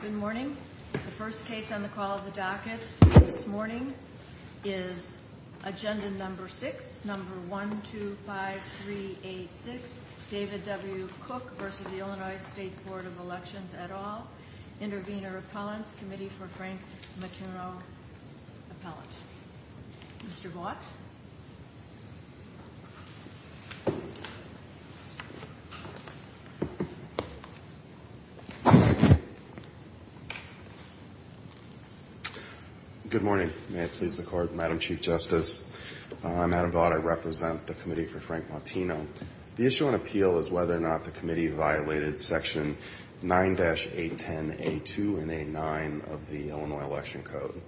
Good morning. The first case on the call of the docket this morning is Agenda No. 6, No. 1, 2, 5, 3, 8, 6. David W. Cooke v. The Illinois State Board of Elections et al., Intervenor Appellants, Committee for Frank Maturno Appellant. Mr. Vaught. Good morning. May it please the Court, Madam Chief Justice, I'm Adam Vaught. I represent the Committee for Frank Maturno. The issue on appeal is whether or not the committee violated Section 9-810A2 and 8-9 of the Illinois Election Code.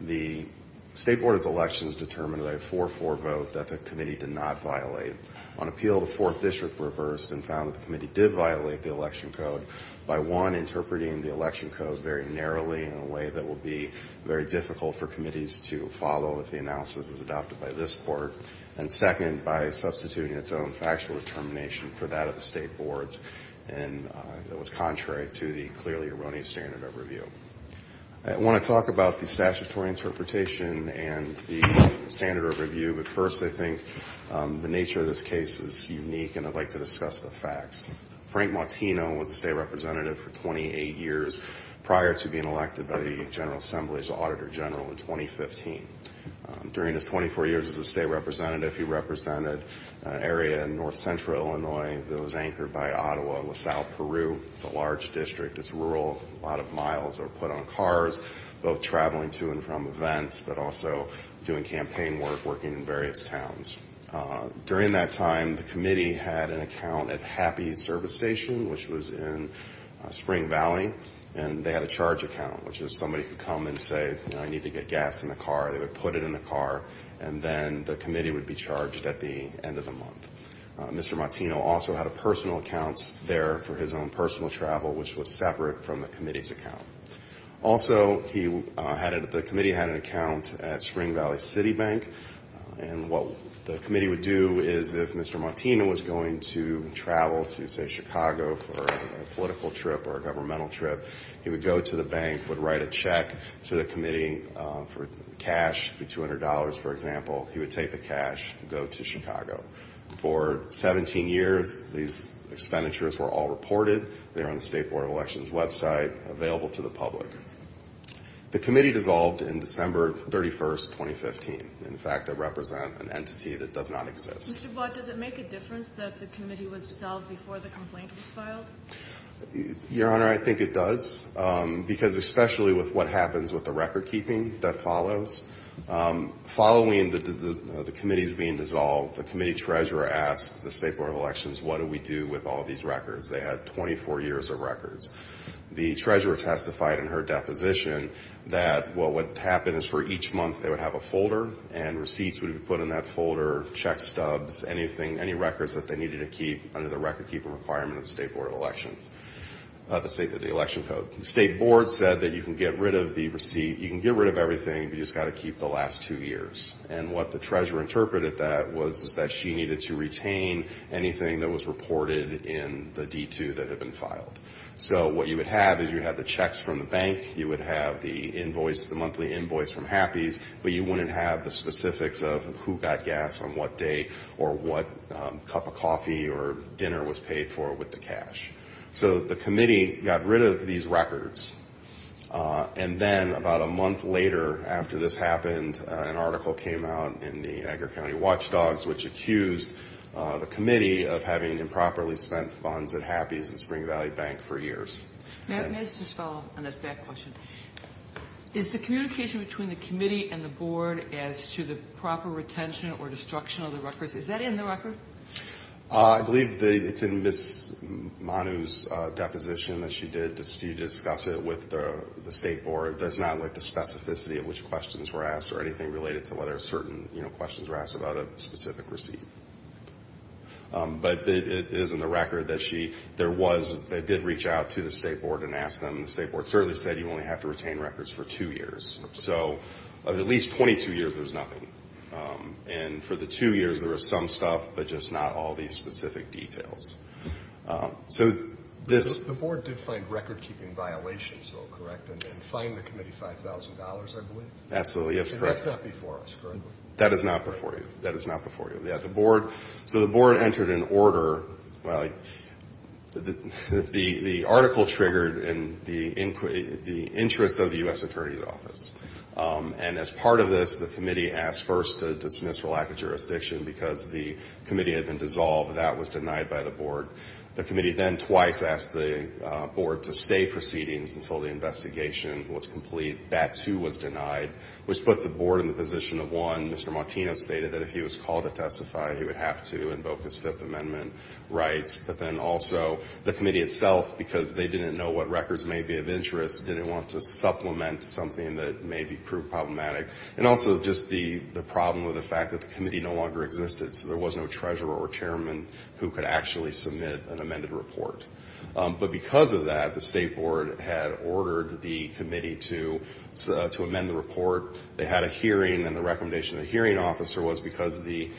The State Board of Elections determined by a 4-4 vote that the committee did not violate. On appeal, the Fourth District reversed and found that the committee did violate the Election Code by, one, interpreting the Election Code very narrowly in a way that will be very difficult for committees to follow if the analysis is adopted by this Court, and, second, by substituting its own factual determination for that of the State Board's, and that was contrary to the clearly erroneous standard of review. I want to talk about the statutory interpretation and the standard of review, but first I think the nature of this case is unique, and I'd like to discuss the facts. Frank Maturno was a State Representative for 28 years prior to being elected by the General Assembly as Auditor General in 2015. During his 24 years as a State Representative, he represented an area in north central Illinois that was anchored by Ottawa, LaSalle, Peru. It's a large district. It's rural. A lot of miles are put on cars, both traveling to and from events, but also doing campaign work, working in various towns. During that time, the committee had an account at Happy Service Station, which was in Spring Valley, and they had a charge account, which is somebody could come and say, you know, I need to get gas in the car. They would put it in the car, and then the committee would be charged at the end of the month. Mr. Maturno also had a personal account there for his own personal travel, which was separate from the committee's account. Also, the committee had an account at Spring Valley City Bank, and what the committee would do is if Mr. Maturno was going to travel to, say, Chicago for a political trip or a governmental trip, he would go to the bank, would write a check to the committee for cash, $200, for example. He would take the cash and go to Chicago. For 17 years, these expenditures were all reported. They're on the State Board of Elections website, available to the public. The committee dissolved in December 31, 2015. In fact, they represent an entity that does not exist. Mr. Blatt, does it make a difference that the committee was dissolved before the complaint was filed? Your Honor, I think it does, because especially with what happens with the record-keeping that follows, following the committees being dissolved, the committee treasurer asked the State Board of Elections, what do we do with all these records? They had 24 years of records. The treasurer testified in her deposition that what would happen is for each month they would have a folder, and receipts would be put in that folder, check stubs, anything, any records that they needed to keep under the record-keeping requirement of the State Board of Elections, the state of the election code. The State Board said that you can get rid of the receipt, you can get rid of everything, you've just got to keep the last two years. And what the treasurer interpreted that was is that she needed to retain anything that was reported in the D-2 that had been filed. So what you would have is you would have the checks from the bank, you would have the invoice, the monthly invoice from Happys, but you wouldn't have the specifics of who got gas on what day or what cup of coffee or dinner was paid for with the cash. So the committee got rid of these records. And then about a month later after this happened, an article came out in the Agger County Watchdogs, which accused the committee of having improperly spent funds at Happys and Spring Valley Bank for years. May I just follow up on this back question? Is the communication between the committee and the board as to the proper retention or destruction of the records, is that in the record? I believe it's in Ms. Manu's deposition that she did discuss it with the state board. There's not like the specificity of which questions were asked or anything related to whether certain questions were asked about a specific receipt. But it is in the record that she did reach out to the state board and ask them. The state board certainly said you only have to retain records for two years. So of at least 22 years, there's nothing. And for the two years, there was some stuff, but just not all these specific details. The board did find record-keeping violations, though, correct? And fined the committee $5,000, I believe? Absolutely, yes, correct. That's not before us, correct? That is not before you. That is not before you. So the board entered an order. The article triggered the interest of the U.S. Attorney's Office. And as part of this, the committee asked first to dismiss for lack of jurisdiction because the committee had been dissolved. That was denied by the board. The committee then twice asked the board to stay proceedings until the investigation was complete. That, too, was denied, which put the board in the position of, one, Mr. Martinez stated that if he was called to testify, he would have to invoke his Fifth Amendment rights. But then also the committee itself, because they didn't know what records may be of interest, didn't want to supplement something that may be proved problematic. And also just the problem with the fact that the committee no longer existed, so there was no treasurer or chairman who could actually submit an amended report. But because of that, the State Board had ordered the committee to amend the report. They had a hearing, and the recommendation of the hearing officer was because the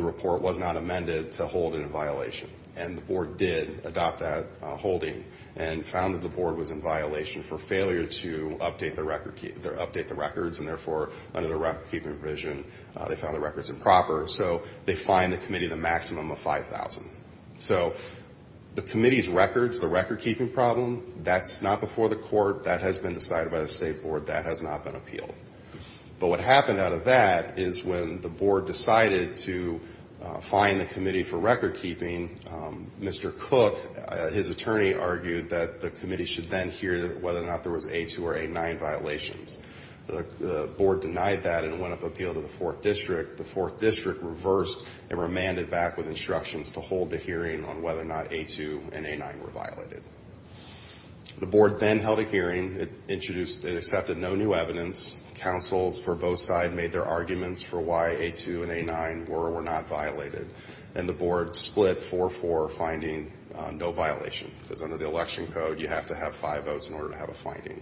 report was not amended, to hold it in violation. And the board did adopt that holding and found that the board was in violation for failure to update the records and, therefore, under the record-keeping provision, they found the records improper. So they fined the committee the maximum of $5,000. So the committee's records, the record-keeping problem, that's not before the court. That has been decided by the State Board. That has not been appealed. But what happened out of that is when the board decided to fine the committee for record-keeping, Mr. Cook, his attorney, argued that the committee should then hear whether or not there was A2 or A9 violations. The board denied that and went up to appeal to the 4th District. The 4th District reversed and remanded back with instructions to hold the hearing on whether or not A2 and A9 were violated. The board then held a hearing. It introduced and accepted no new evidence. Councils for both sides made their arguments for why A2 and A9 were or were not violated. And the board split 4-4, finding no violation. Because under the election code, you have to have five votes in order to have a finding.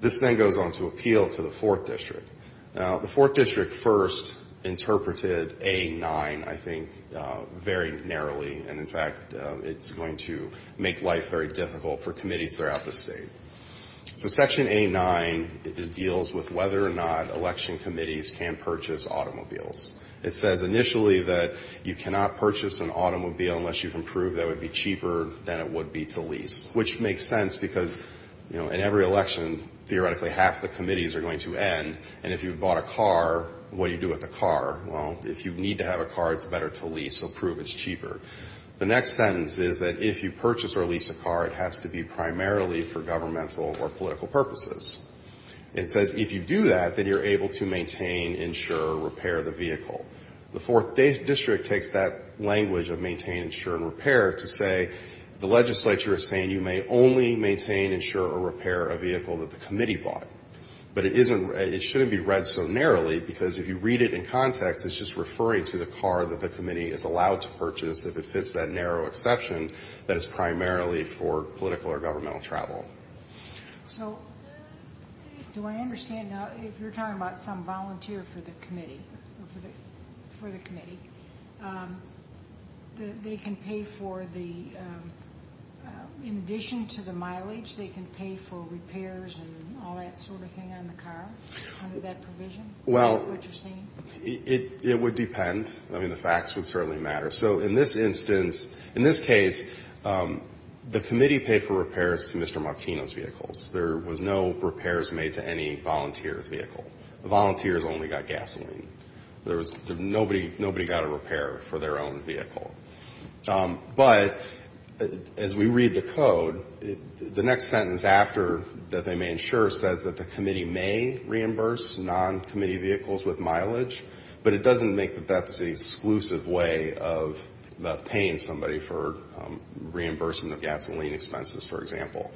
This then goes on to appeal to the 4th District. Now, the 4th District first interpreted A9, I think, very narrowly. And, in fact, it's going to make life very difficult for committees throughout the state. So Section A9 deals with whether or not election committees can purchase automobiles. It says initially that you cannot purchase an automobile unless you can prove that it would be cheaper than it would be to lease, which makes sense because, you know, in every election, theoretically half the committees are going to end. And if you've bought a car, what do you do with the car? Well, if you need to have a car, it's better to lease or prove it's cheaper. The next sentence is that if you purchase or lease a car, it has to be primarily for governmental or political purposes. It says if you do that, then you're able to maintain, insure, or repair the vehicle. The 4th District takes that language of maintain, insure, and repair to say the legislature is saying you may only maintain, insure, or repair a vehicle that the committee bought. But it isn't – it shouldn't be read so narrowly because if you read it in context, it's just referring to the car that the committee is allowed to purchase if it fits that narrow exception that is primarily for political or governmental travel. Okay. So do I understand now, if you're talking about some volunteer for the committee, for the committee, they can pay for the – in addition to the mileage, they can pay for repairs and all that sort of thing on the car under that provision? Well, it would depend. I mean, the facts would certainly matter. So in this instance, in this case, the committee paid for repairs to Mr. Martino's vehicles. There was no repairs made to any volunteer's vehicle. The volunteers only got gasoline. There was – nobody got a repair for their own vehicle. But as we read the code, the next sentence after that they may insure says that the committee may reimburse non-committee vehicles with mileage, but it doesn't make that that's the exclusive way of paying somebody for reimbursement of gasoline expenses, for example.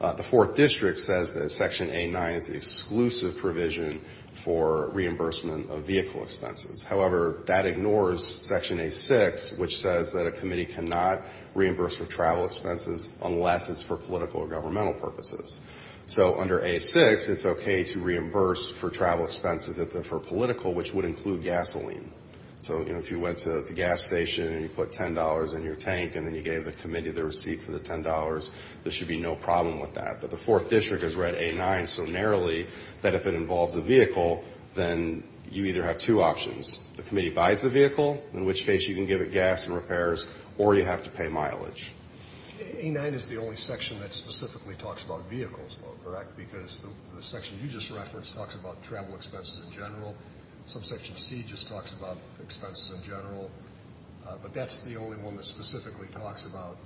The Fourth District says that Section A-9 is the exclusive provision for reimbursement of vehicle expenses. However, that ignores Section A-6, which says that a committee cannot reimburse for travel expenses unless it's for political or governmental purposes. So under A-6, it's okay to reimburse for travel expenses if they're for political, which would include gasoline. So, you know, if you went to the gas station and you put $10 in your tank and then you gave the committee the receipt for the $10, there should be no problem with that. But the Fourth District has read A-9 so narrowly that if it involves a vehicle, then you either have two options. The committee buys the vehicle, in which case you can give it gas and repairs, or you have to pay mileage. A-9 is the only section that specifically talks about vehicles, though, correct? Because the section you just referenced talks about travel expenses in general. Subsection C just talks about expenses in general. But that's the only one that specifically talks about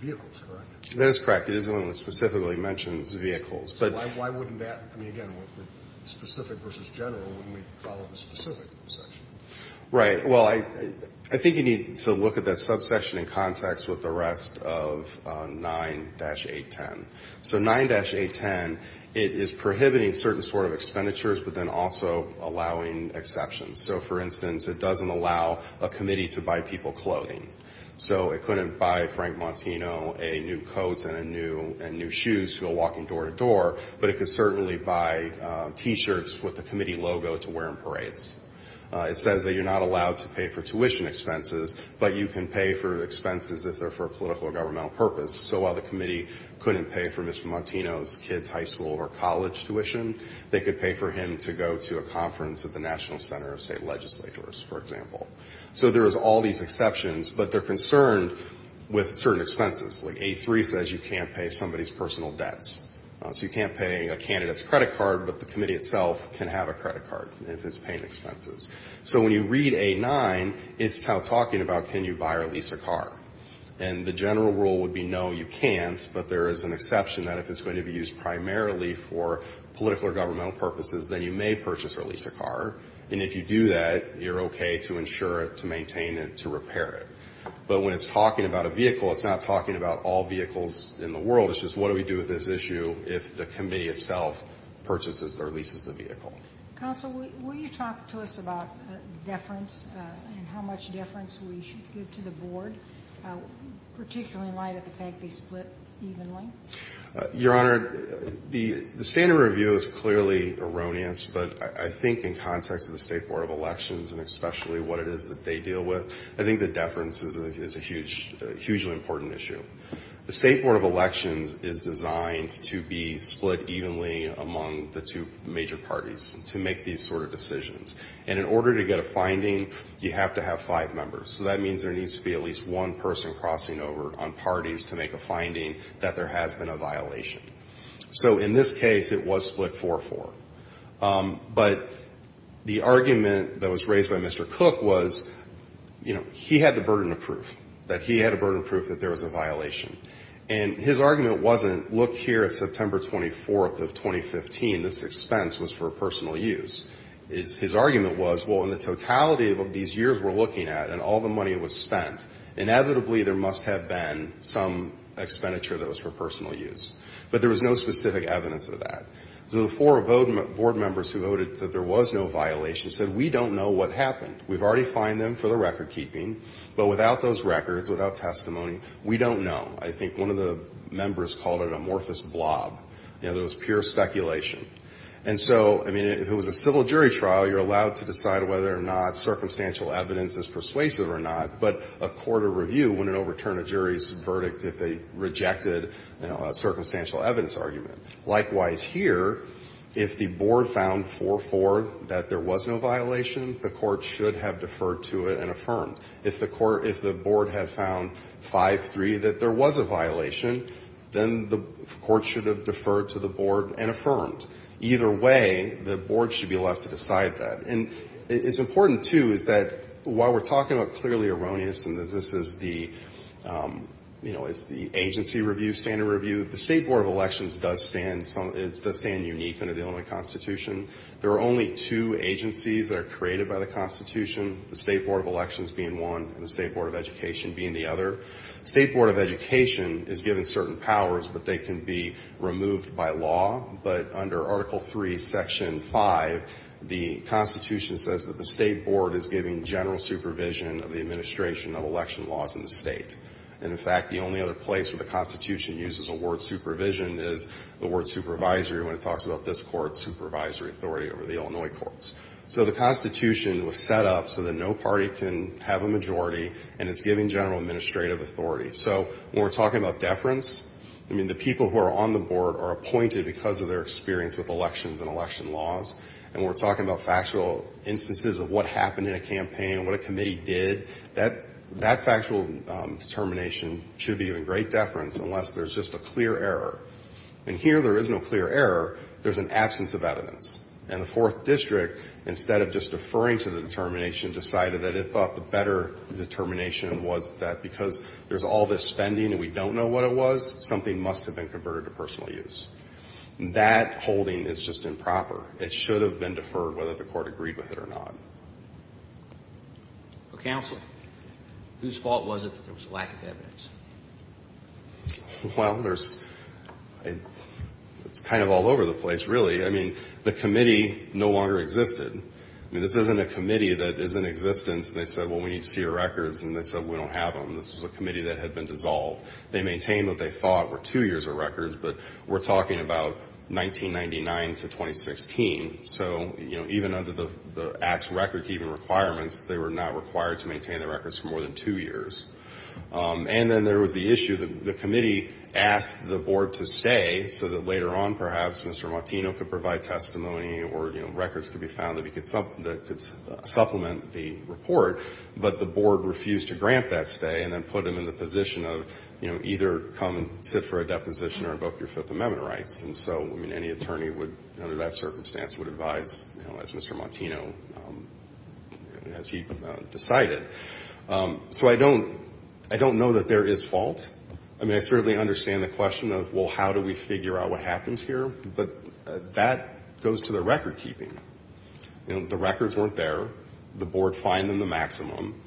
vehicles, correct? That is correct. It is the only one that specifically mentions vehicles. So why wouldn't that be, again, specific versus general when we follow the specific section? Right. Well, I think you need to look at that subsection in context with the rest of 9-810. So 9-810, it is prohibiting certain sort of expenditures but then also allowing exceptions. So, for instance, it doesn't allow a committee to buy people clothing. So it couldn't buy Frank Montino a new coat and new shoes to go walking door to door, but it could certainly buy T-shirts with the committee logo to wear in parades. It says that you're not allowed to pay for tuition expenses, but you can pay for expenses if they're for a political or governmental purpose. So while the committee couldn't pay for Mr. Montino's kids' high school or college tuition, they could pay for him to go to a conference at the National Center of State Legislators, for example. So there is all these exceptions, but they're concerned with certain expenses. Like A-3 says you can't pay somebody's personal debts. So you can't pay a candidate's credit card, but the committee itself can have a credit card if it's paying expenses. So when you read A-9, it's kind of talking about can you buy or lease a car. And the general rule would be no, you can't, but there is an exception that if it's going to be used primarily for political or governmental purposes, then you may purchase or lease a car. And if you do that, you're okay to insure it, to maintain it, to repair it. But when it's talking about a vehicle, it's not talking about all vehicles in the world. It's just what do we do with this issue if the committee itself purchases or leases the vehicle. Counsel, will you talk to us about deference and how much deference we should give to the board, particularly in light of the fact they split evenly? Your Honor, the standard review is clearly erroneous, but I think in context of the State Board of Elections and especially what it is that they deal with, I think that deference is a hugely important issue. The State Board of Elections is designed to be split evenly among the two major parties to make these sort of decisions. And in order to get a finding, you have to have five members. So that means there needs to be at least one person crossing over on parties to make a finding that there has been a violation. So in this case, it was split 4-4. But the argument that was raised by Mr. Cook was, you know, he had the burden of proof, that he had the burden of proof that there was a violation. And his argument wasn't, look here at September 24th of 2015, this expense was for personal use. His argument was, well, in the totality of these years we're looking at and all the money was spent, inevitably there must have been some expenditure that was for personal use. But there was no specific evidence of that. So the four board members who voted that there was no violation said, we don't know what happened. We've already fined them for the recordkeeping. But without those records, without testimony, we don't know. I think one of the members called it an amorphous blob. You know, there was pure speculation. And so, I mean, if it was a civil jury trial, you're allowed to decide whether or not circumstantial evidence is persuasive or not. But a court of review wouldn't overturn a jury's verdict if they rejected a circumstantial evidence argument. Likewise here, if the board found 4-4 that there was no violation, the court should have deferred to it and affirmed. If the board had found 5-3 that there was a violation, then the court should have deferred to the board and affirmed. Either way, the board should be left to decide that. And it's important, too, is that while we're talking about clearly erroneous and that this is the agency review, standard review, the State Board of Elections does stand unique under the Illinois Constitution. There are only two agencies that are created by the Constitution, the State Board of Elections being one and the State Board of Education being the other. State Board of Education is given certain powers, but they can be removed by law. But under Article III, Section 5, the Constitution says that the State Board is giving general supervision of the administration of election laws in the state. And, in fact, the only other place where the Constitution uses the word supervision is the word supervisory when it talks about this court's supervisory authority over the Illinois courts. So the Constitution was set up so that no party can have a majority, and it's giving general administrative authority. So when we're talking about deference, I mean, the people who are on the board are appointed because of their experience with elections and election laws. And when we're talking about factual instances of what happened in a campaign and what a committee did, that factual determination should be in great deference unless there's just a clear error. And here there is no clear error. There's an absence of evidence. And the Fourth District, instead of just deferring to the determination, decided that it thought the better determination was that because there's all this spending and we don't know what it was, something must have been converted to personal use. That holding is just improper. It should have been deferred whether the court agreed with it or not. Counsel, whose fault was it that there was a lack of evidence? Well, it's kind of all over the place, really. I mean, the committee no longer existed. I mean, this isn't a committee that is in existence. They said, well, we need to see your records, and they said, we don't have them. This was a committee that had been dissolved. They maintained what they thought were two years of records, but we're talking about 1999 to 2016. So, you know, even under the Act's record-keeping requirements, they were not required to maintain the records for more than two years. And then there was the issue that the committee asked the board to stay so that later on perhaps Mr. Martino could provide testimony or, you know, records could be found that could supplement the report, but the board refused to grant that stay and then put him in the position of, you know, either come and sit for a deposition or book your Fifth Amendment rights. And so, I mean, any attorney would, under that circumstance, would advise, you know, as Mr. Martino, as he decided. So I don't know that there is fault. I mean, I certainly understand the question of, well, how do we figure out what happens here? But that goes to the record-keeping. You know, the records weren't there. The board fined them the maximum.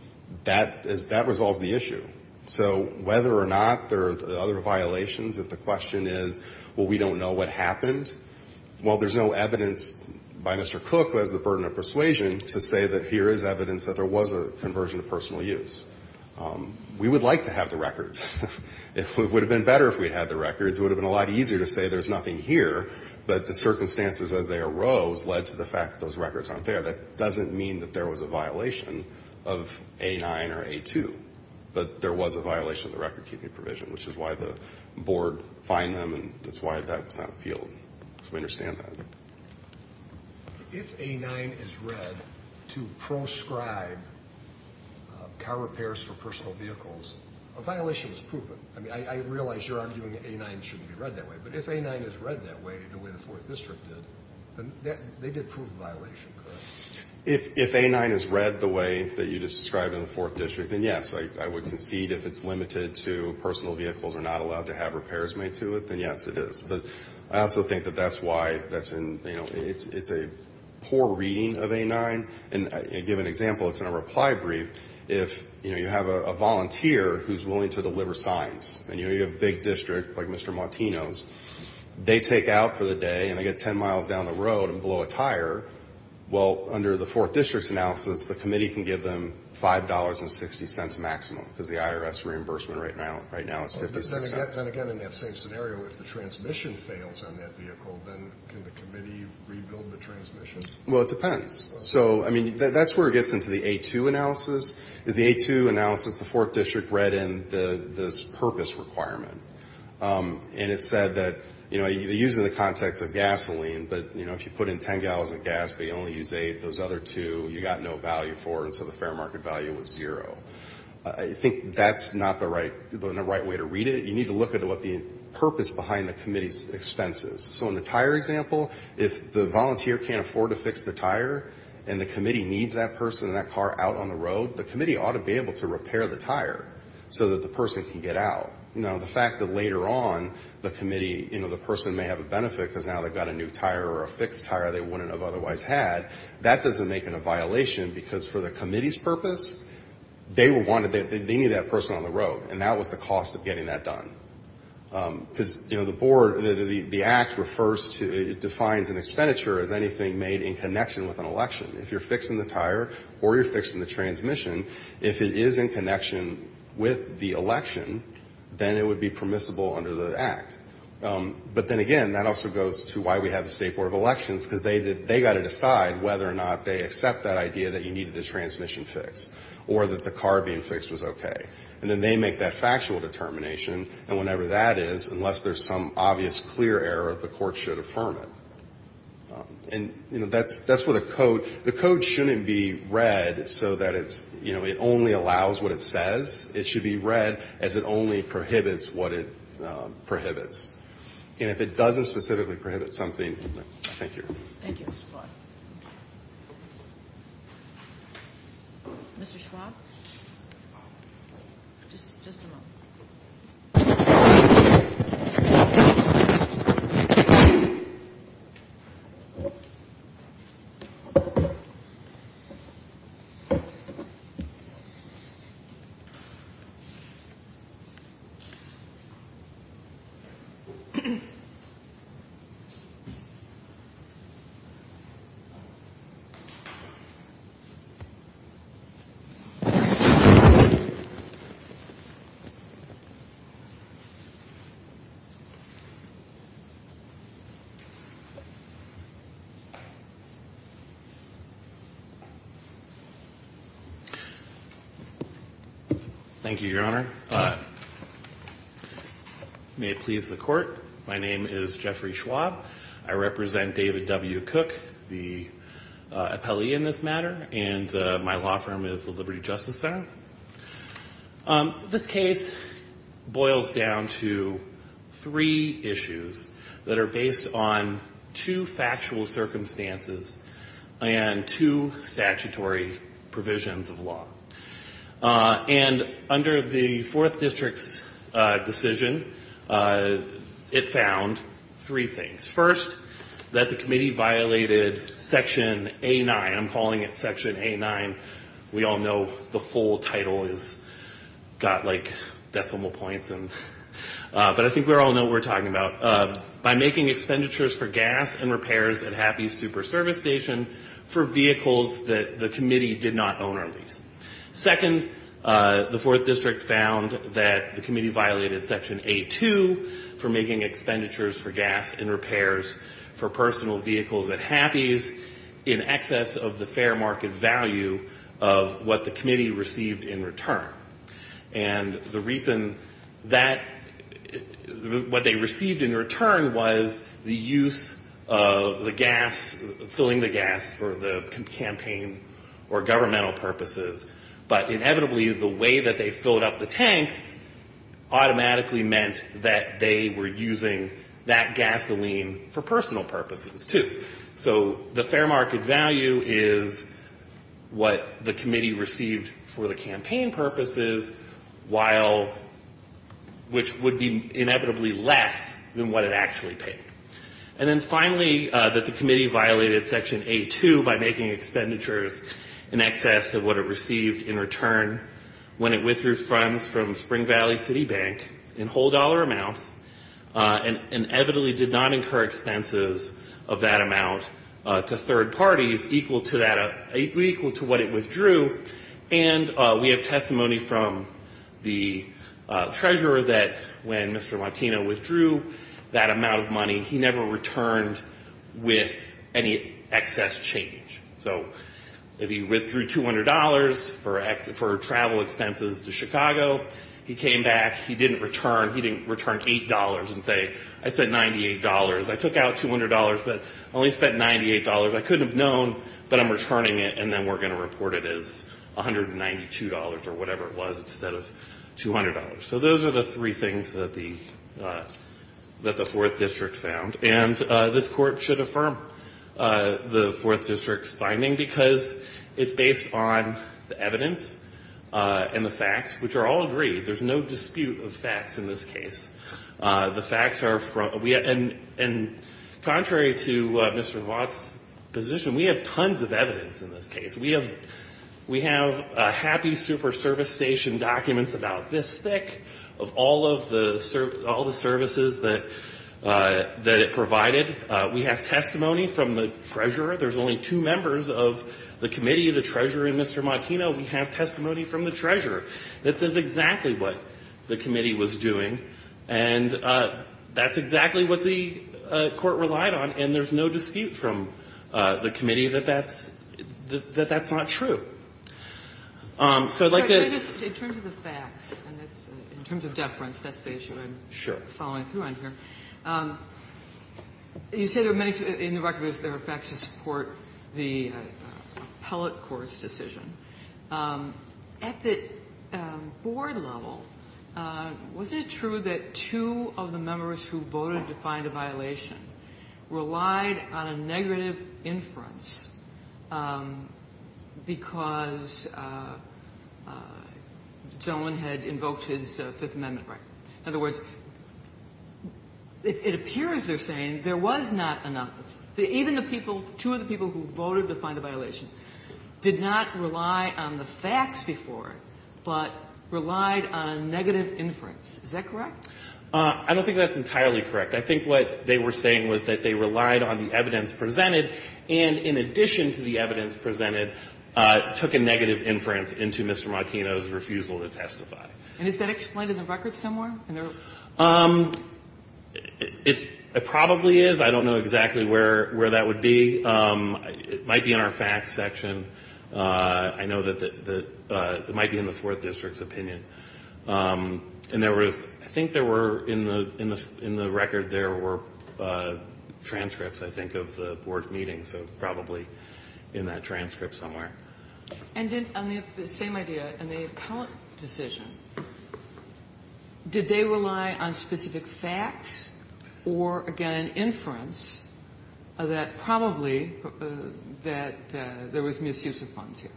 That resolves the issue. So whether or not there are other violations, if the question is, well, we don't know what happened, well, there's no evidence by Mr. Cook, who has the burden of persuasion, to say that here is evidence that there was a conversion of personal use. We would like to have the records. It would have been better if we had the records. It would have been a lot easier to say there's nothing here, but the circumstances as they arose led to the fact that those records aren't there. That doesn't mean that there was a violation of A9 or A2, but there was a violation of the record-keeping provision, which is why the board fined them, and that's why that was not appealed. So we understand that. If A9 is read to proscribe car repairs for personal vehicles, a violation is proven. I mean, I realize you're arguing that A9 shouldn't be read that way, but if A9 is read that way, the way the 4th District did, then they did prove a violation, correct? If A9 is read the way that you just described in the 4th District, then yes, I would concede if it's limited to personal vehicles are not allowed to have repairs made to it, then yes, it is. But I also think that that's why it's a poor reading of A9. And I'll give an example. It's in a reply brief. If you have a volunteer who's willing to deliver signs, and you have a big district like Mr. Martino's, they take out for the day and they get 10 miles down the road and blow a tire, well, under the 4th District's analysis, the committee can give them $5.60 maximum because the IRS reimbursement right now is $0.56. Then again, in that same scenario, if the transmission fails on that vehicle, then can the committee rebuild the transmission? Well, it depends. So, I mean, that's where it gets into the A2 analysis, is the A2 analysis the 4th District read in this purpose requirement. And it said that, you know, they use it in the context of gasoline, but, you know, if you put in 10 gallons of gas but you only use eight, those other two you got no value for, and so the fair market value was zero. I think that's not the right way to read it. You need to look at what the purpose behind the committee's expenses. So in the tire example, if the volunteer can't afford to fix the tire and the committee needs that person and that car out on the road, the committee ought to be able to repair the tire so that the person can get out. You know, the fact that later on the committee, you know, the person may have a benefit because now they've got a new tire or a fixed tire they wouldn't have otherwise had, that doesn't make it a violation because for the committee's purpose, they needed that person on the road, and that was the cost of getting that done. Because, you know, the board, the Act refers to, it defines an expenditure as anything made in connection with an election. If you're fixing the tire or you're fixing the transmission, if it is in connection with the election, then it would be permissible under the Act. But then again, that also goes to why we have the State Board of Elections because they got to decide whether or not they accept that idea that you needed the transmission fixed or that the car being fixed was okay. And then they make that factual determination, and whenever that is, unless there's some obvious clear error, the court should affirm it. And, you know, that's where the code, the code shouldn't be read so that it's, you know, it only allows what it says. It should be read as it only prohibits what it prohibits. And if it doesn't specifically prohibit something, thank you. Thank you, Mr. Clark. Mr. Schwab? Just a moment. Thank you. Thank you, Your Honor. May it please the Court, my name is Jeffrey Schwab. I represent David W. Cook, the appellee in this matter, and my law firm is the Liberty Justice Center. This case boils down to three issues that are based on two factual circumstances and two statutory provisions of law. And under the Fourth District's decision, it found three things. First, that the committee violated Section A9. I'm calling it Section A9. We all know the full title has got, like, decimal points. But I think we all know what we're talking about. By making expenditures for gas and repairs at Happy's Super Service Station for vehicles that the committee did not own or lease. Second, the Fourth District found that the committee violated Section A2 for making expenditures for gas and repairs for personal vehicles at Happy's in excess of the fair market value of what the committee received in return. And the reason that what they received in return was the use of the gas, filling the gas for the campaign or governmental purposes. But inevitably, the way that they filled up the tanks automatically meant that they were using that gasoline for personal purposes, too. So the fair market value is what the committee received for the campaign purposes while which would be inevitably less than what it actually paid. And then finally, that the committee violated Section A2 by making expenditures in excess of what it received in return when it withdrew funds from Spring Valley City Bank in whole dollar amounts and inevitably did not incur expenses of that amount to third parties equal to what it withdrew. And we have testimony from the treasurer that when Mr. Martino withdrew that amount of money, he never returned with any excess change. So if he withdrew $200 for travel expenses to Chicago, he came back, he didn't return $8 and say, I spent $98. I took out $200, but I only spent $98. I couldn't have known, but I'm returning it, and then we're going to report it as $192 or whatever it was instead of $200. So those are the three things that the Fourth District found. And this Court should affirm the Fourth District's finding because it's based on the evidence and the facts, which are all agreed. There's no dispute of facts in this case. The facts are from, and contrary to Mr. Vaught's position, we have tons of evidence in this case. We have happy super service station documents about this thick of all of the services that it provided. We have testimony from the treasurer. There's only two members of the committee, the treasurer and Mr. Martino. We have testimony from the treasurer that says exactly what the committee was doing. And that's exactly what the Court relied on. And there's no dispute from the committee that that's not true. So I'd like to ---- Kagan. In terms of the facts, in terms of deference, that's the issue I'm following through on here. Sure. You say there are many ---- in the record there are facts to support the appellate court's decision. At the board level, wasn't it true that two of the members who voted to find a violation relied on a negative inference because the gentleman had invoked his Fifth Amendment right? In other words, it appears they're saying there was not enough. Even the people, two of the people who voted to find a violation, did not rely on the facts before, but relied on negative inference. Is that correct? I don't think that's entirely correct. I think what they were saying was that they relied on the evidence presented and, in addition to the evidence presented, took a negative inference into Mr. Martino's refusal to testify. And is that explained in the record somewhere? It probably is. I don't know exactly where that would be. It might be in our facts section. I know that it might be in the Fourth District's opinion. And there was, I think there were, in the record there were transcripts, I think, of the board's meetings, so probably in that transcript somewhere. And on the same idea, in the appellant decision, did they rely on specific facts or, again, an inference that probably that there was misuse of funds here?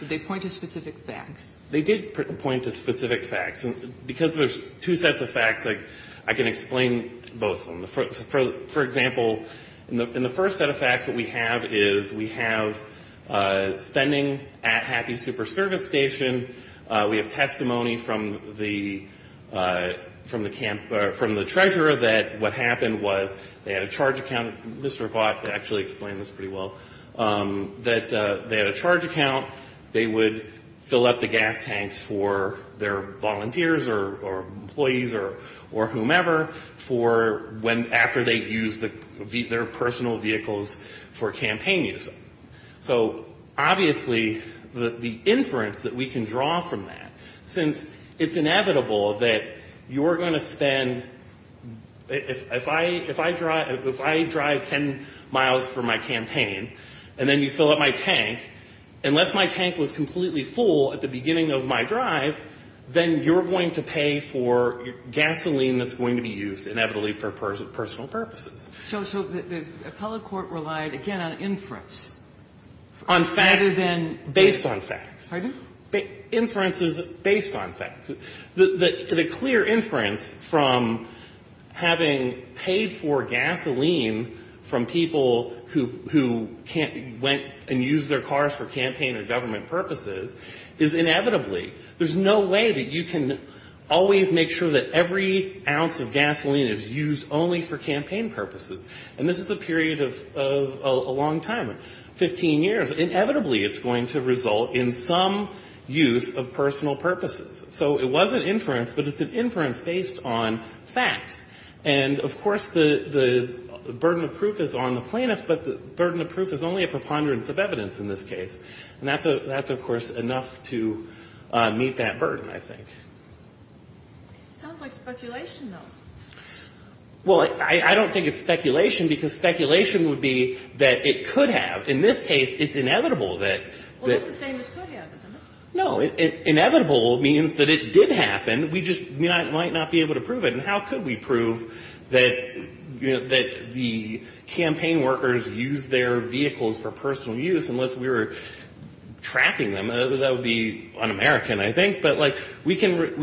Did they point to specific facts? They did point to specific facts. And because there's two sets of facts, I can explain both of them. For example, in the first set of facts, what we have is we have spending at Happy Super Service Station. We have testimony from the treasurer that what happened was they had a charge account. Mr. Vaught actually explained this pretty well, that they had a charge account. They would fill up the gas tanks for their volunteers or employees or whomever for when, after they used their personal vehicles for campaign use. So, obviously, the inference that we can draw from that, since it's inevitable that you're going to spend, if I drive 10 miles for my campaign, and then you fill up my tank, unless my tank was completely full at the beginning of my drive, then you're going to pay for gasoline that's going to be used, inevitably, for personal purposes. So the appellate court relied, again, on inference, rather than the facts? On facts, based on facts. Pardon? Inference is based on facts. The clear inference from having paid for gasoline from people who went and used their cars for campaign or government purposes is, inevitably, there's no way that you can always make sure that every ounce of gasoline is used only for campaign purposes. And this is a period of a long time, 15 years. Inevitably, it's going to result in some use of personal purposes. So it was an inference, but it's an inference based on facts. And, of course, the burden of proof is on the plaintiff, but the burden of proof is only a preponderance of evidence in this case. And that's, of course, enough to meet that burden, I think. It sounds like speculation, though. Well, I don't think it's speculation, because speculation would be that it could have. In this case, it's inevitable that the... Well, it's the same as could have, isn't it? No. Inevitable means that it did happen. We just might not be able to prove it. And how could we prove that the campaign workers used their vehicles for personal use unless we were tracking them? That would be un-American, I think. But, like, we can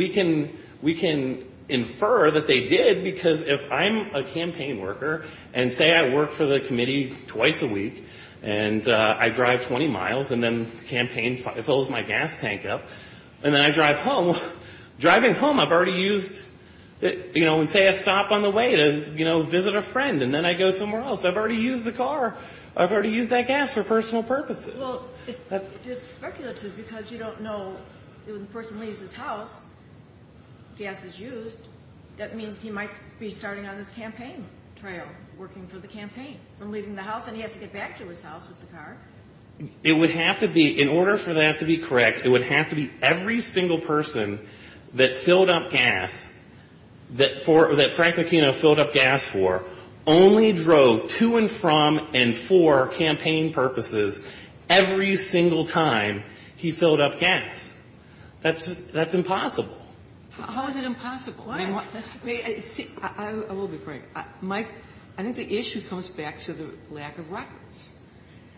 infer that they did, because if I'm a campaign worker, and say I work for the committee twice a week, and I drive 20 miles, and then the campaign fills my gas tank up, and then I drive home. Driving home, I've already used... You know, and say I stop on the way to, you know, visit a friend, and then I go somewhere else. I've already used the car. I've already used that gas for personal purposes. Well, it's speculative, because you don't know... When a person leaves his house, gas is used. And he has to get back to his house with the car. It would have to be, in order for that to be correct, it would have to be every single person that filled up gas, that Frank Macchino filled up gas for, only drove to and from and for campaign purposes every single time he filled up gas. That's impossible. How is it impossible? I will be frank. Mike, I think the issue comes back to the lack of records.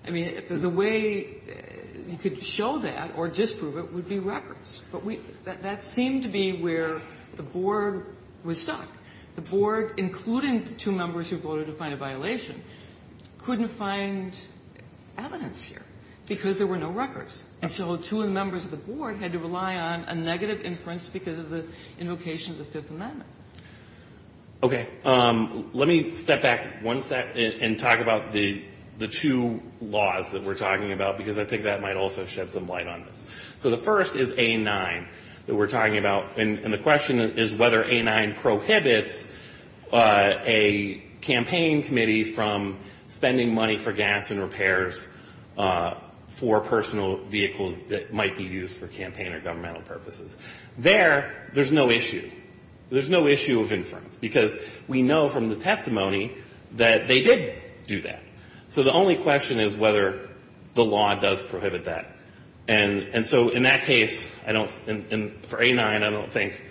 I mean, the way you could show that or disprove it would be records. But that seemed to be where the board was stuck. The board, including two members who voted to find a violation, couldn't find evidence here because there were no records. And so two members of the board had to rely on a negative inference because of the invocation of the Fifth Amendment. Okay. Let me step back one second and talk about the two laws that we're talking about, because I think that might also shed some light on this. So the first is A-9 that we're talking about. And the question is whether A-9 prohibits a campaign committee from spending money for gas and repairs for personal vehicles that might be used for campaign or governmental purposes. There, there's no issue. There's no issue of inference because we know from the testimony that they did do that. So the only question is whether the law does prohibit that. And so in that case, I don't, for A-9, I don't think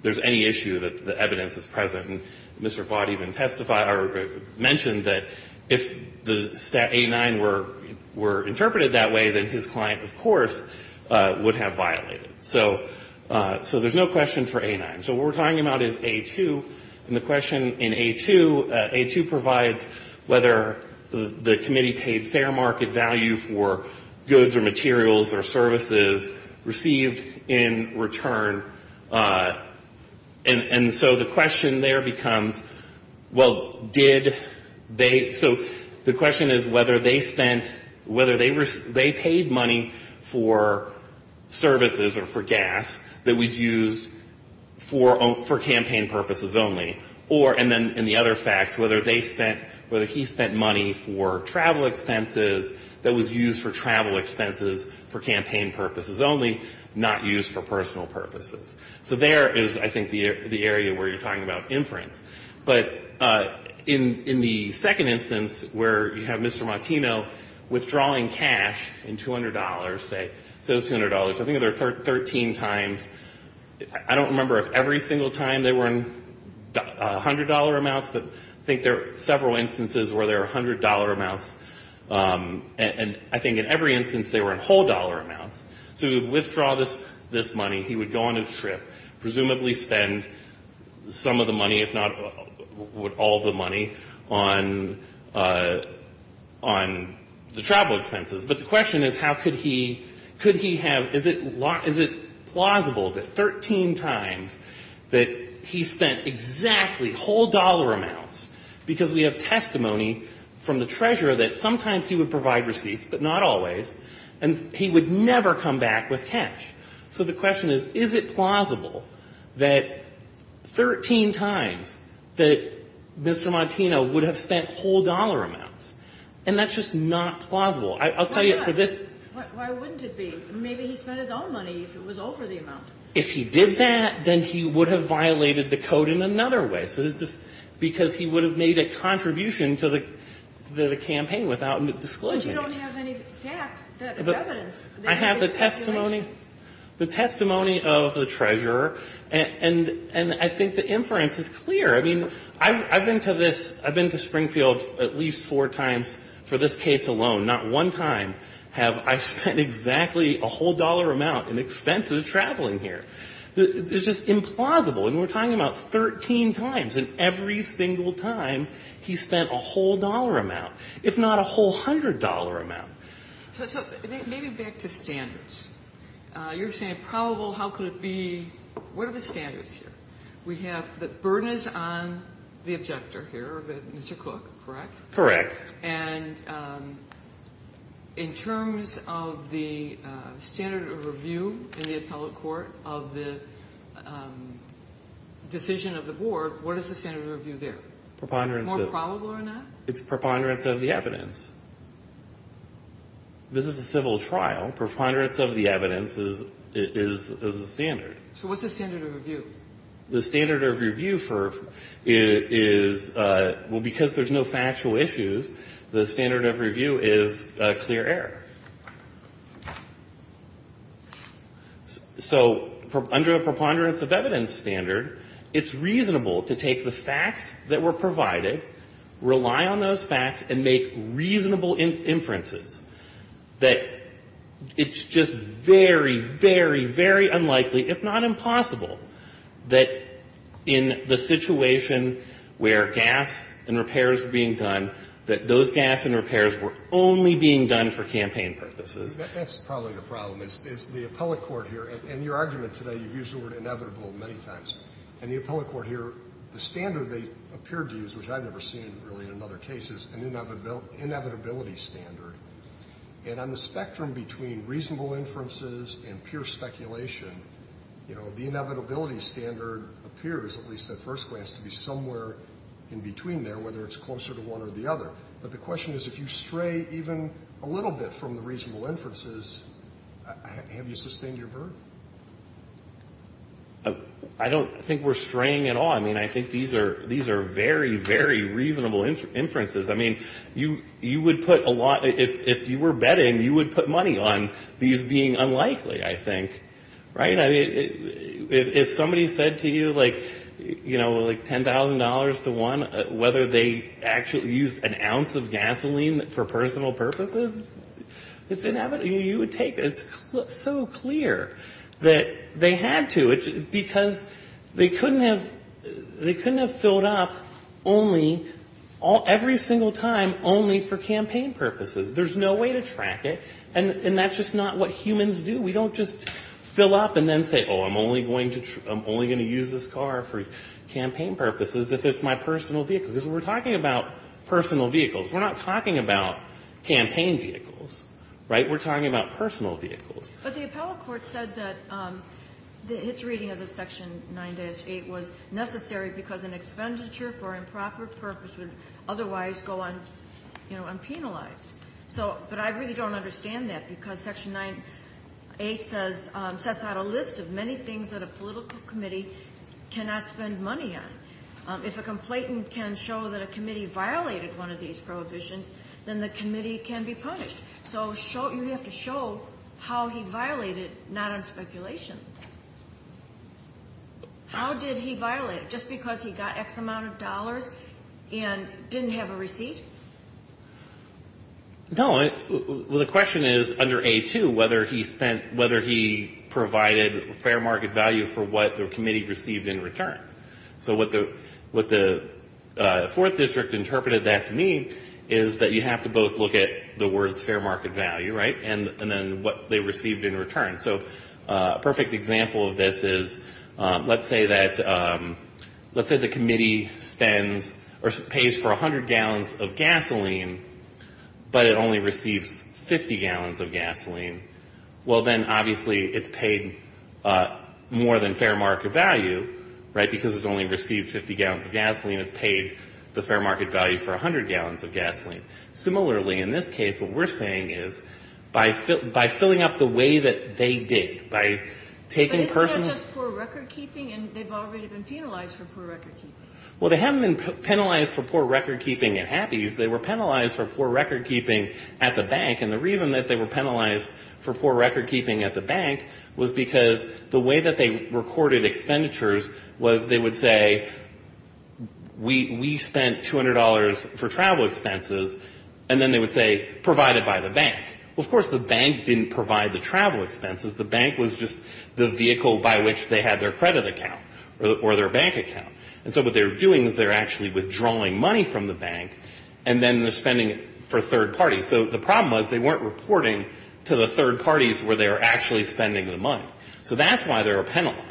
there's any issue that the evidence is present. And Mr. Vaught even testified or mentioned that if the A-9 were interpreted that way, then his client, of course, would have violated it. So there's no question for A-9. So what we're talking about is A-2. And the question in A-2, A-2 provides whether the committee paid fair market value for goods or materials or services received in return. And so the question there becomes, well, did they, so the question is whether they spent, whether they paid money for services or for gas that was used for campaign purposes only, or, and then in the other facts, whether they spent, whether he spent money for travel expenses that was used for travel expenses for campaign purposes only, not used for personal purposes. So there is, I think, the area where you're talking about inference. But in the second instance where you have Mr. Martino withdrawing cash in $200, say, so it's $200, I think there are 13 times, I don't remember if every single time they were in $100 amounts, but I think there are several instances where there are $100 amounts. And I think in every instance they were in whole dollar amounts. So he would withdraw this money, he would go on his trip, presumably spend some of the money, if not all of the money, on the travel expenses. But the question is how could he, could he have, is it plausible that 13 times that he spent exactly whole dollar amounts because we have testimony from the treasurer that sometimes he would provide receipts, but not always, and he would never come back with cash. So the question is, is it plausible that 13 times that Mr. Martino would have spent whole dollar amounts? And that's just not plausible. I'll tell you for this. Why wouldn't it be? Maybe he spent his own money if it was over the amount. If he did that, then he would have violated the code in another way because he would have made a contribution to the campaign without disclosing it. I have the testimony, the testimony of the treasurer, and I think the inference is clear. I mean, I've been to this, I've been to Springfield at least four times for this case alone. Not one time have I spent exactly a whole dollar amount in expenses traveling here. It's just implausible. And we're talking about 13 times. And every single time he spent a whole dollar amount. It's not a whole hundred dollar amount. So maybe back to standards. You're saying probable, how could it be, what are the standards here? We have the burden is on the objector here, Mr. Cook, correct? Correct. And in terms of the standard of review in the appellate court of the decision of the board, what is the standard of review there? More probable or not? It's preponderance of the evidence. This is a civil trial. Preponderance of the evidence is the standard. So what's the standard of review? The standard of review is, well, because there's no factual issues, the standard of review is clear error. So under a preponderance of evidence standard, it's reasonable to take the facts that were provided, rely on those facts, and make reasonable inferences that it's just very, very, very unlikely, if not impossible, that in the situation where gas and repairs were being done, that those gas and repairs were only being done for campaign purposes. That's probably the problem. It's the appellate court here. In your argument today, you've used the word inevitable many times. In the appellate court here, the standard they appeared to use, which I've never seen really in other cases, an inevitability standard. And on the spectrum between reasonable inferences and pure speculation, you know, the inevitability standard appears, at least at first glance, to be somewhere in between there, whether it's closer to one or the other. But the question is, if you stray even a little bit from the reasonable inferences, have you sustained your verdict? I don't think we're straying at all. I mean, I think these are very, very reasonable inferences. I mean, you would put a lot, if you were betting, you would put money on these being unlikely, I think. Right? I mean, if somebody said to you, like, you know, like $10,000 to one, whether they actually used an ounce of gasoline for personal purposes, it's inevitable. You would take it. It's so clear that they had to, because they couldn't have filled up only, every single time, only for campaign purposes. There's no way to track it. And that's just not what humans do. We don't just fill up and then say, oh, I'm only going to use this car for campaign purposes if it's my personal vehicle. Because we're talking about personal vehicles. We're not talking about campaign vehicles. Right? We're talking about personal vehicles. But the appellate court said that its reading of the Section 9-8 was necessary because an expenditure for improper purpose would otherwise go unpenalized. But I really don't understand that, because Section 9-8 sets out a list of many things that a political committee cannot spend money on. If a complainant can show that a committee violated one of these prohibitions, then the committee can be punished. So you have to show how he violated, not on speculation. How did he violate it? Just because he got X amount of dollars and didn't have a receipt? No. Well, the question is, under A-2, whether he provided fair market value for what the committee received in return. So what the Fourth District interpreted that to mean is that you have to both look at the words fair market value, right, and then what they received in return. So a perfect example of this is let's say that the committee spends or pays for 100 gallons of gasoline, but it only receives 50 gallons of gasoline. Well, then obviously it's paid more than fair market value, right, because it's only received 50 gallons of gasoline. It's paid the fair market value for 100 gallons of gasoline. Similarly, in this case, what we're saying is by filling up the way that they did, by taking personal ---- But isn't that just poor recordkeeping? And they've already been penalized for poor recordkeeping. Well, they haven't been penalized for poor recordkeeping at Happy's. They were penalized for poor recordkeeping at the bank. And the reason that they were penalized for poor recordkeeping at the bank was because the way that they recorded expenditures was they would say we spent $200 for travel expenses, and then they would say provided by the bank. Well, of course the bank didn't provide the travel expenses. The bank was just the vehicle by which they had their credit account or their bank account. And so what they were doing is they were actually withdrawing money from the bank, and then they're spending it for third parties. So the problem was they weren't reporting to the third parties where they were actually spending the money. So that's why they were penalized.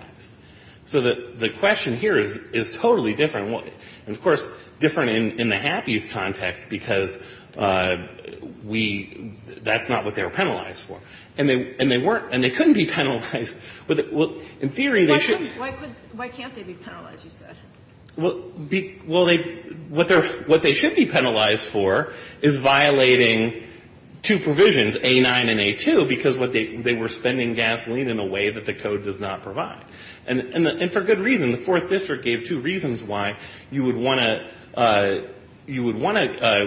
So the question here is totally different. And, of course, different in the Happy's context, because we ---- that's not what they were penalized for. And they weren't. And they couldn't be penalized. In theory, they should be. Why can't they be penalized, you said? Well, they ---- what they should be penalized for is violating two provisions, A9 and A2, because they were spending gasoline in a way that the code does not provide. And for good reason. The Fourth District gave two reasons why you would want to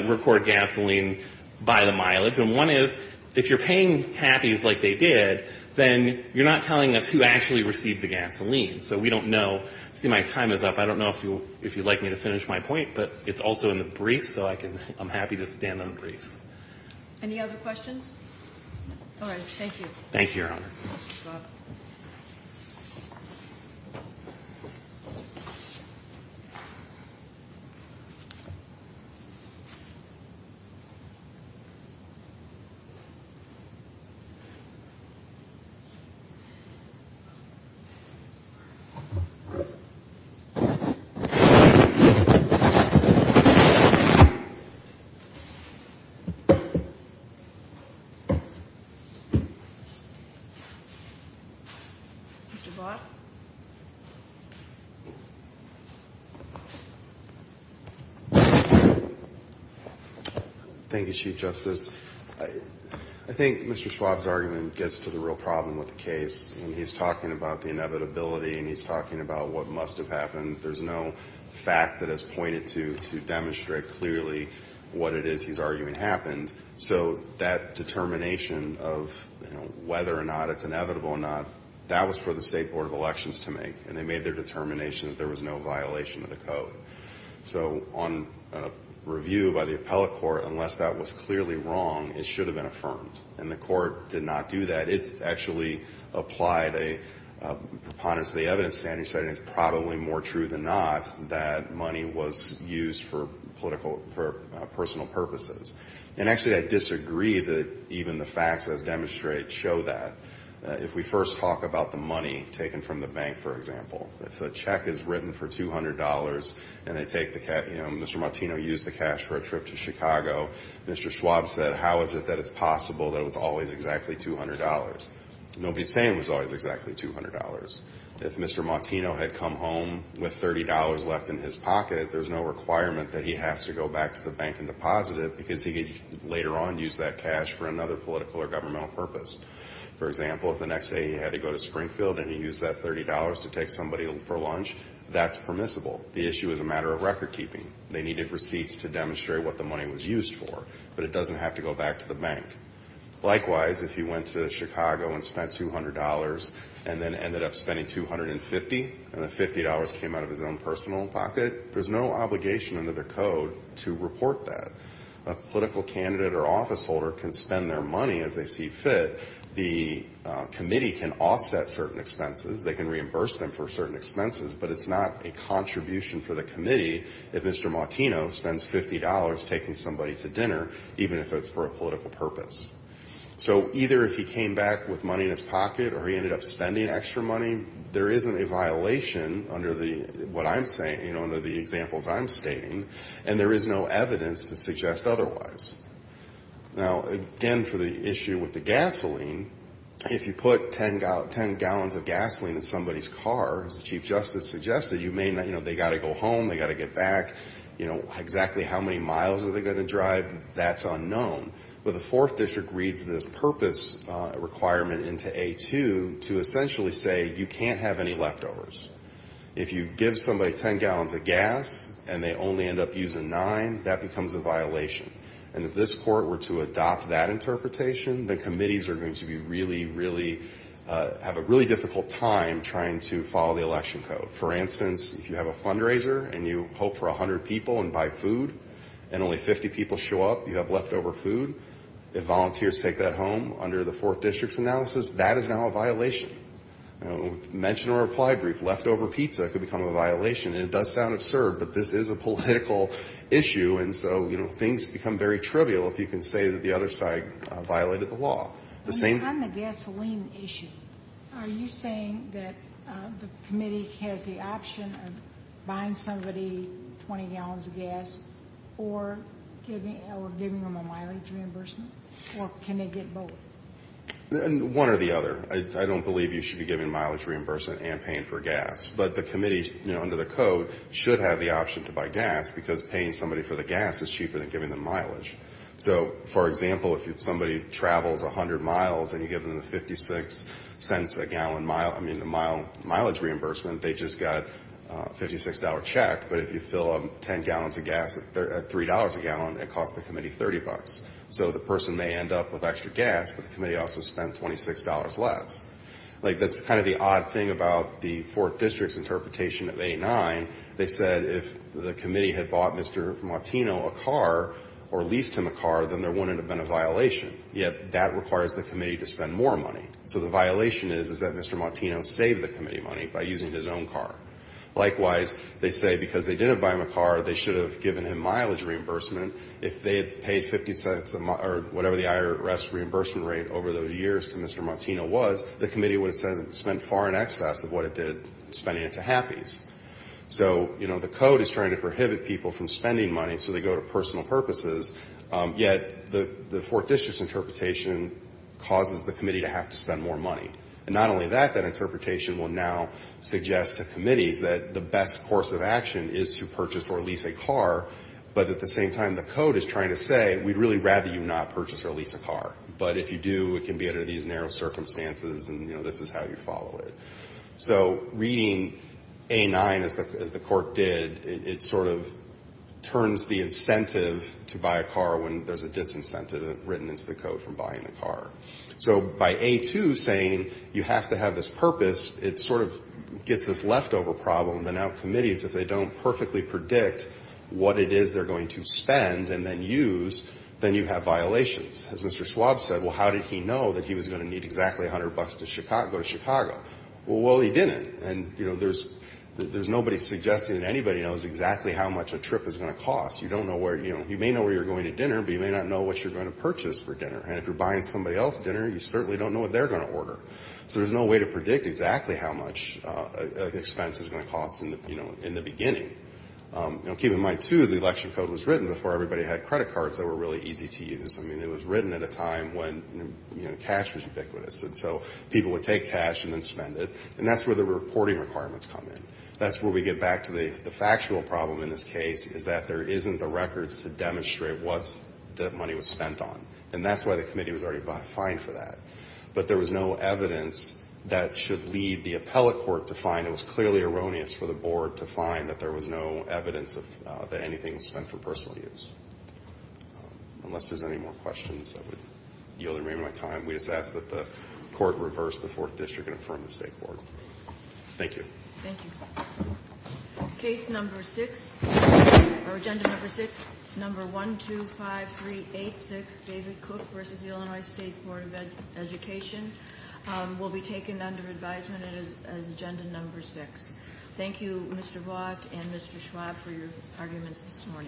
record gasoline by the mileage. And one is if you're paying Happy's like they did, then you're not telling us who actually received the gasoline. So we don't know. See, my time is up. I don't know if you'd like me to finish my point, but it's also in the briefs, so I can ---- I'm happy to stand on the briefs. Any other questions? All right. Thank you. Thank you, Your Honor. Thank you, Your Honor. Mr. Block. Thank you, Chief Justice. I think Mr. Schwab's argument gets to the real problem with the case. And he's talking about the inevitability and he's talking about what must have happened. There's no fact that is pointed to to demonstrate clearly what it is he's arguing happened. And so that determination of whether or not it's inevitable or not, that was for the State Board of Elections to make. And they made their determination that there was no violation of the code. So on review by the appellate court, unless that was clearly wrong, it should have been affirmed. And the court did not do that. It actually applied a preponderance of the evidence to any setting. It's probably more true than not that money was used for political ---- for personal purposes. And actually I disagree that even the facts as demonstrated show that. If we first talk about the money taken from the bank, for example, if the check is written for $200 and they take the cash, you know, Mr. Martino used the cash for a trip to Chicago, Mr. Schwab said how is it that it's possible that it was always exactly $200? Nobody's saying it was always exactly $200. If Mr. Martino had come home with $30 left in his pocket, there's no requirement that he has to go back to the bank and deposit it because he could later on use that cash for another political or governmental purpose. For example, if the next day he had to go to Springfield and he used that $30 to take somebody for lunch, that's permissible. The issue is a matter of record keeping. They needed receipts to demonstrate what the money was used for. But it doesn't have to go back to the bank. Likewise, if he went to Chicago and spent $200 and then ended up spending $250 and the $50 came out of his own personal pocket, there's no obligation under the code to report that. A political candidate or officeholder can spend their money as they see fit. The committee can offset certain expenses. They can reimburse them for certain expenses. But it's not a contribution for the committee if Mr. Martino spends $50 taking somebody to dinner, even if it's for a political purpose. So either if he came back with money in his pocket or he ended up spending extra money, there isn't a violation under what I'm saying, you know, under the examples I'm stating. And there is no evidence to suggest otherwise. Now, again, for the issue with the gasoline, if you put 10 gallons of gasoline in somebody's car, as the Chief Justice suggested, you may not, you know, they've got to go home, they've got to get back. You know, exactly how many miles are they going to drive, that's unknown. But the Fourth District reads this purpose requirement into A2 to essentially say you can't have any leftovers. If you give somebody 10 gallons of gas and they only end up using nine, that becomes a violation. And if this court were to adopt that interpretation, the committees are going to be really, really, have a really difficult time trying to follow the election code. For instance, if you have a fundraiser and you hope for 100 people and buy food and only 50 people show up, you have leftover food, if volunteers take that home under the Fourth District's analysis, that is now a violation. You know, mention or reply brief, leftover pizza could become a violation. And it does sound absurd, but this is a political issue. And so, you know, things become very trivial if you can say that the other side violated the law. On the gasoline issue, are you saying that the committee has the option of buying somebody 20 gallons of gas or giving them a mileage reimbursement, or can they get both? One or the other. I don't believe you should be giving mileage reimbursement and paying for gas. But the committee, you know, under the code, should have the option to buy gas, because paying somebody for the gas is cheaper than giving them mileage. So, for example, if somebody travels 100 miles and you give them the 56 cents a gallon mileage reimbursement, they just got a $56 check, but if you fill up 10 gallons of gas at $3 a gallon, it costs the committee $30. So the person may end up with extra gas, but the committee also spent $26 less. Like, that's kind of the odd thing about the Fourth District's interpretation of 8-9. They said if the committee had bought Mr. Martino a car or leased him a car, then there wouldn't have been a violation. Yet that requires the committee to spend more money. So the violation is, is that Mr. Martino saved the committee money by using his own car. Likewise, they say because they didn't buy him a car, they should have given him mileage reimbursement. If they had paid 50 cents or whatever the IRS reimbursement rate over those years to Mr. Martino was, the committee would have spent far in excess of what it did spending it to Happys. So, you know, the code is trying to prohibit people from spending money, so they go to personal purposes. Yet the Fourth District's interpretation causes the committee to have to spend more money. And not only that, that interpretation will now suggest to committees that the best course of action is to purchase or lease a car, but at the same time the code is trying to say we'd really rather you not purchase or lease a car. But if you do, it can be under these narrow circumstances, and, you know, this is how you follow it. So reading A-9 as the court did, it sort of turns the incentive to buy a car when there's a disincentive written into the code from buying a car. So by A-2 saying you have to have this purpose, it sort of gets this leftover problem that now committees, if they don't perfectly predict what it is they're going to spend and then use, then you have violations. As Mr. Schwab said, well, how did he know that he was going to need exactly 100 bucks to go to Chicago? Well, he didn't. And, you know, there's nobody suggesting that anybody knows exactly how much a trip is going to cost. You don't know where, you know, you may know where you're going to dinner, but you may not know what you're going to purchase for dinner. And if you're buying somebody else dinner, you certainly don't know what they're going to order. So there's no way to predict exactly how much an expense is going to cost in the beginning. Keep in mind, too, the election code was written before everybody had credit cards that were really easy to use. I mean, it was written at a time when, you know, cash was ubiquitous. And so people would take cash and then spend it. And that's where the reporting requirements come in. That's where we get back to the factual problem in this case, is that there isn't the records to demonstrate what that money was spent on. And that's why the committee was already fined for that. But there was no evidence that should lead the appellate court to find. It was clearly erroneous for the board to find that there was no evidence that anything was spent for personal use. Unless there's any more questions, I would yield the remainder of my time. We just ask that the court reverse the fourth district and affirm the state board. Thank you. Thank you. Case number six, or agenda number six, number 125386, David Cook v. Illinois State Board of Education, will be taken under advisement as agenda number six. Thank you, Mr. Vaught and Mr. Schwab, for your arguments this morning.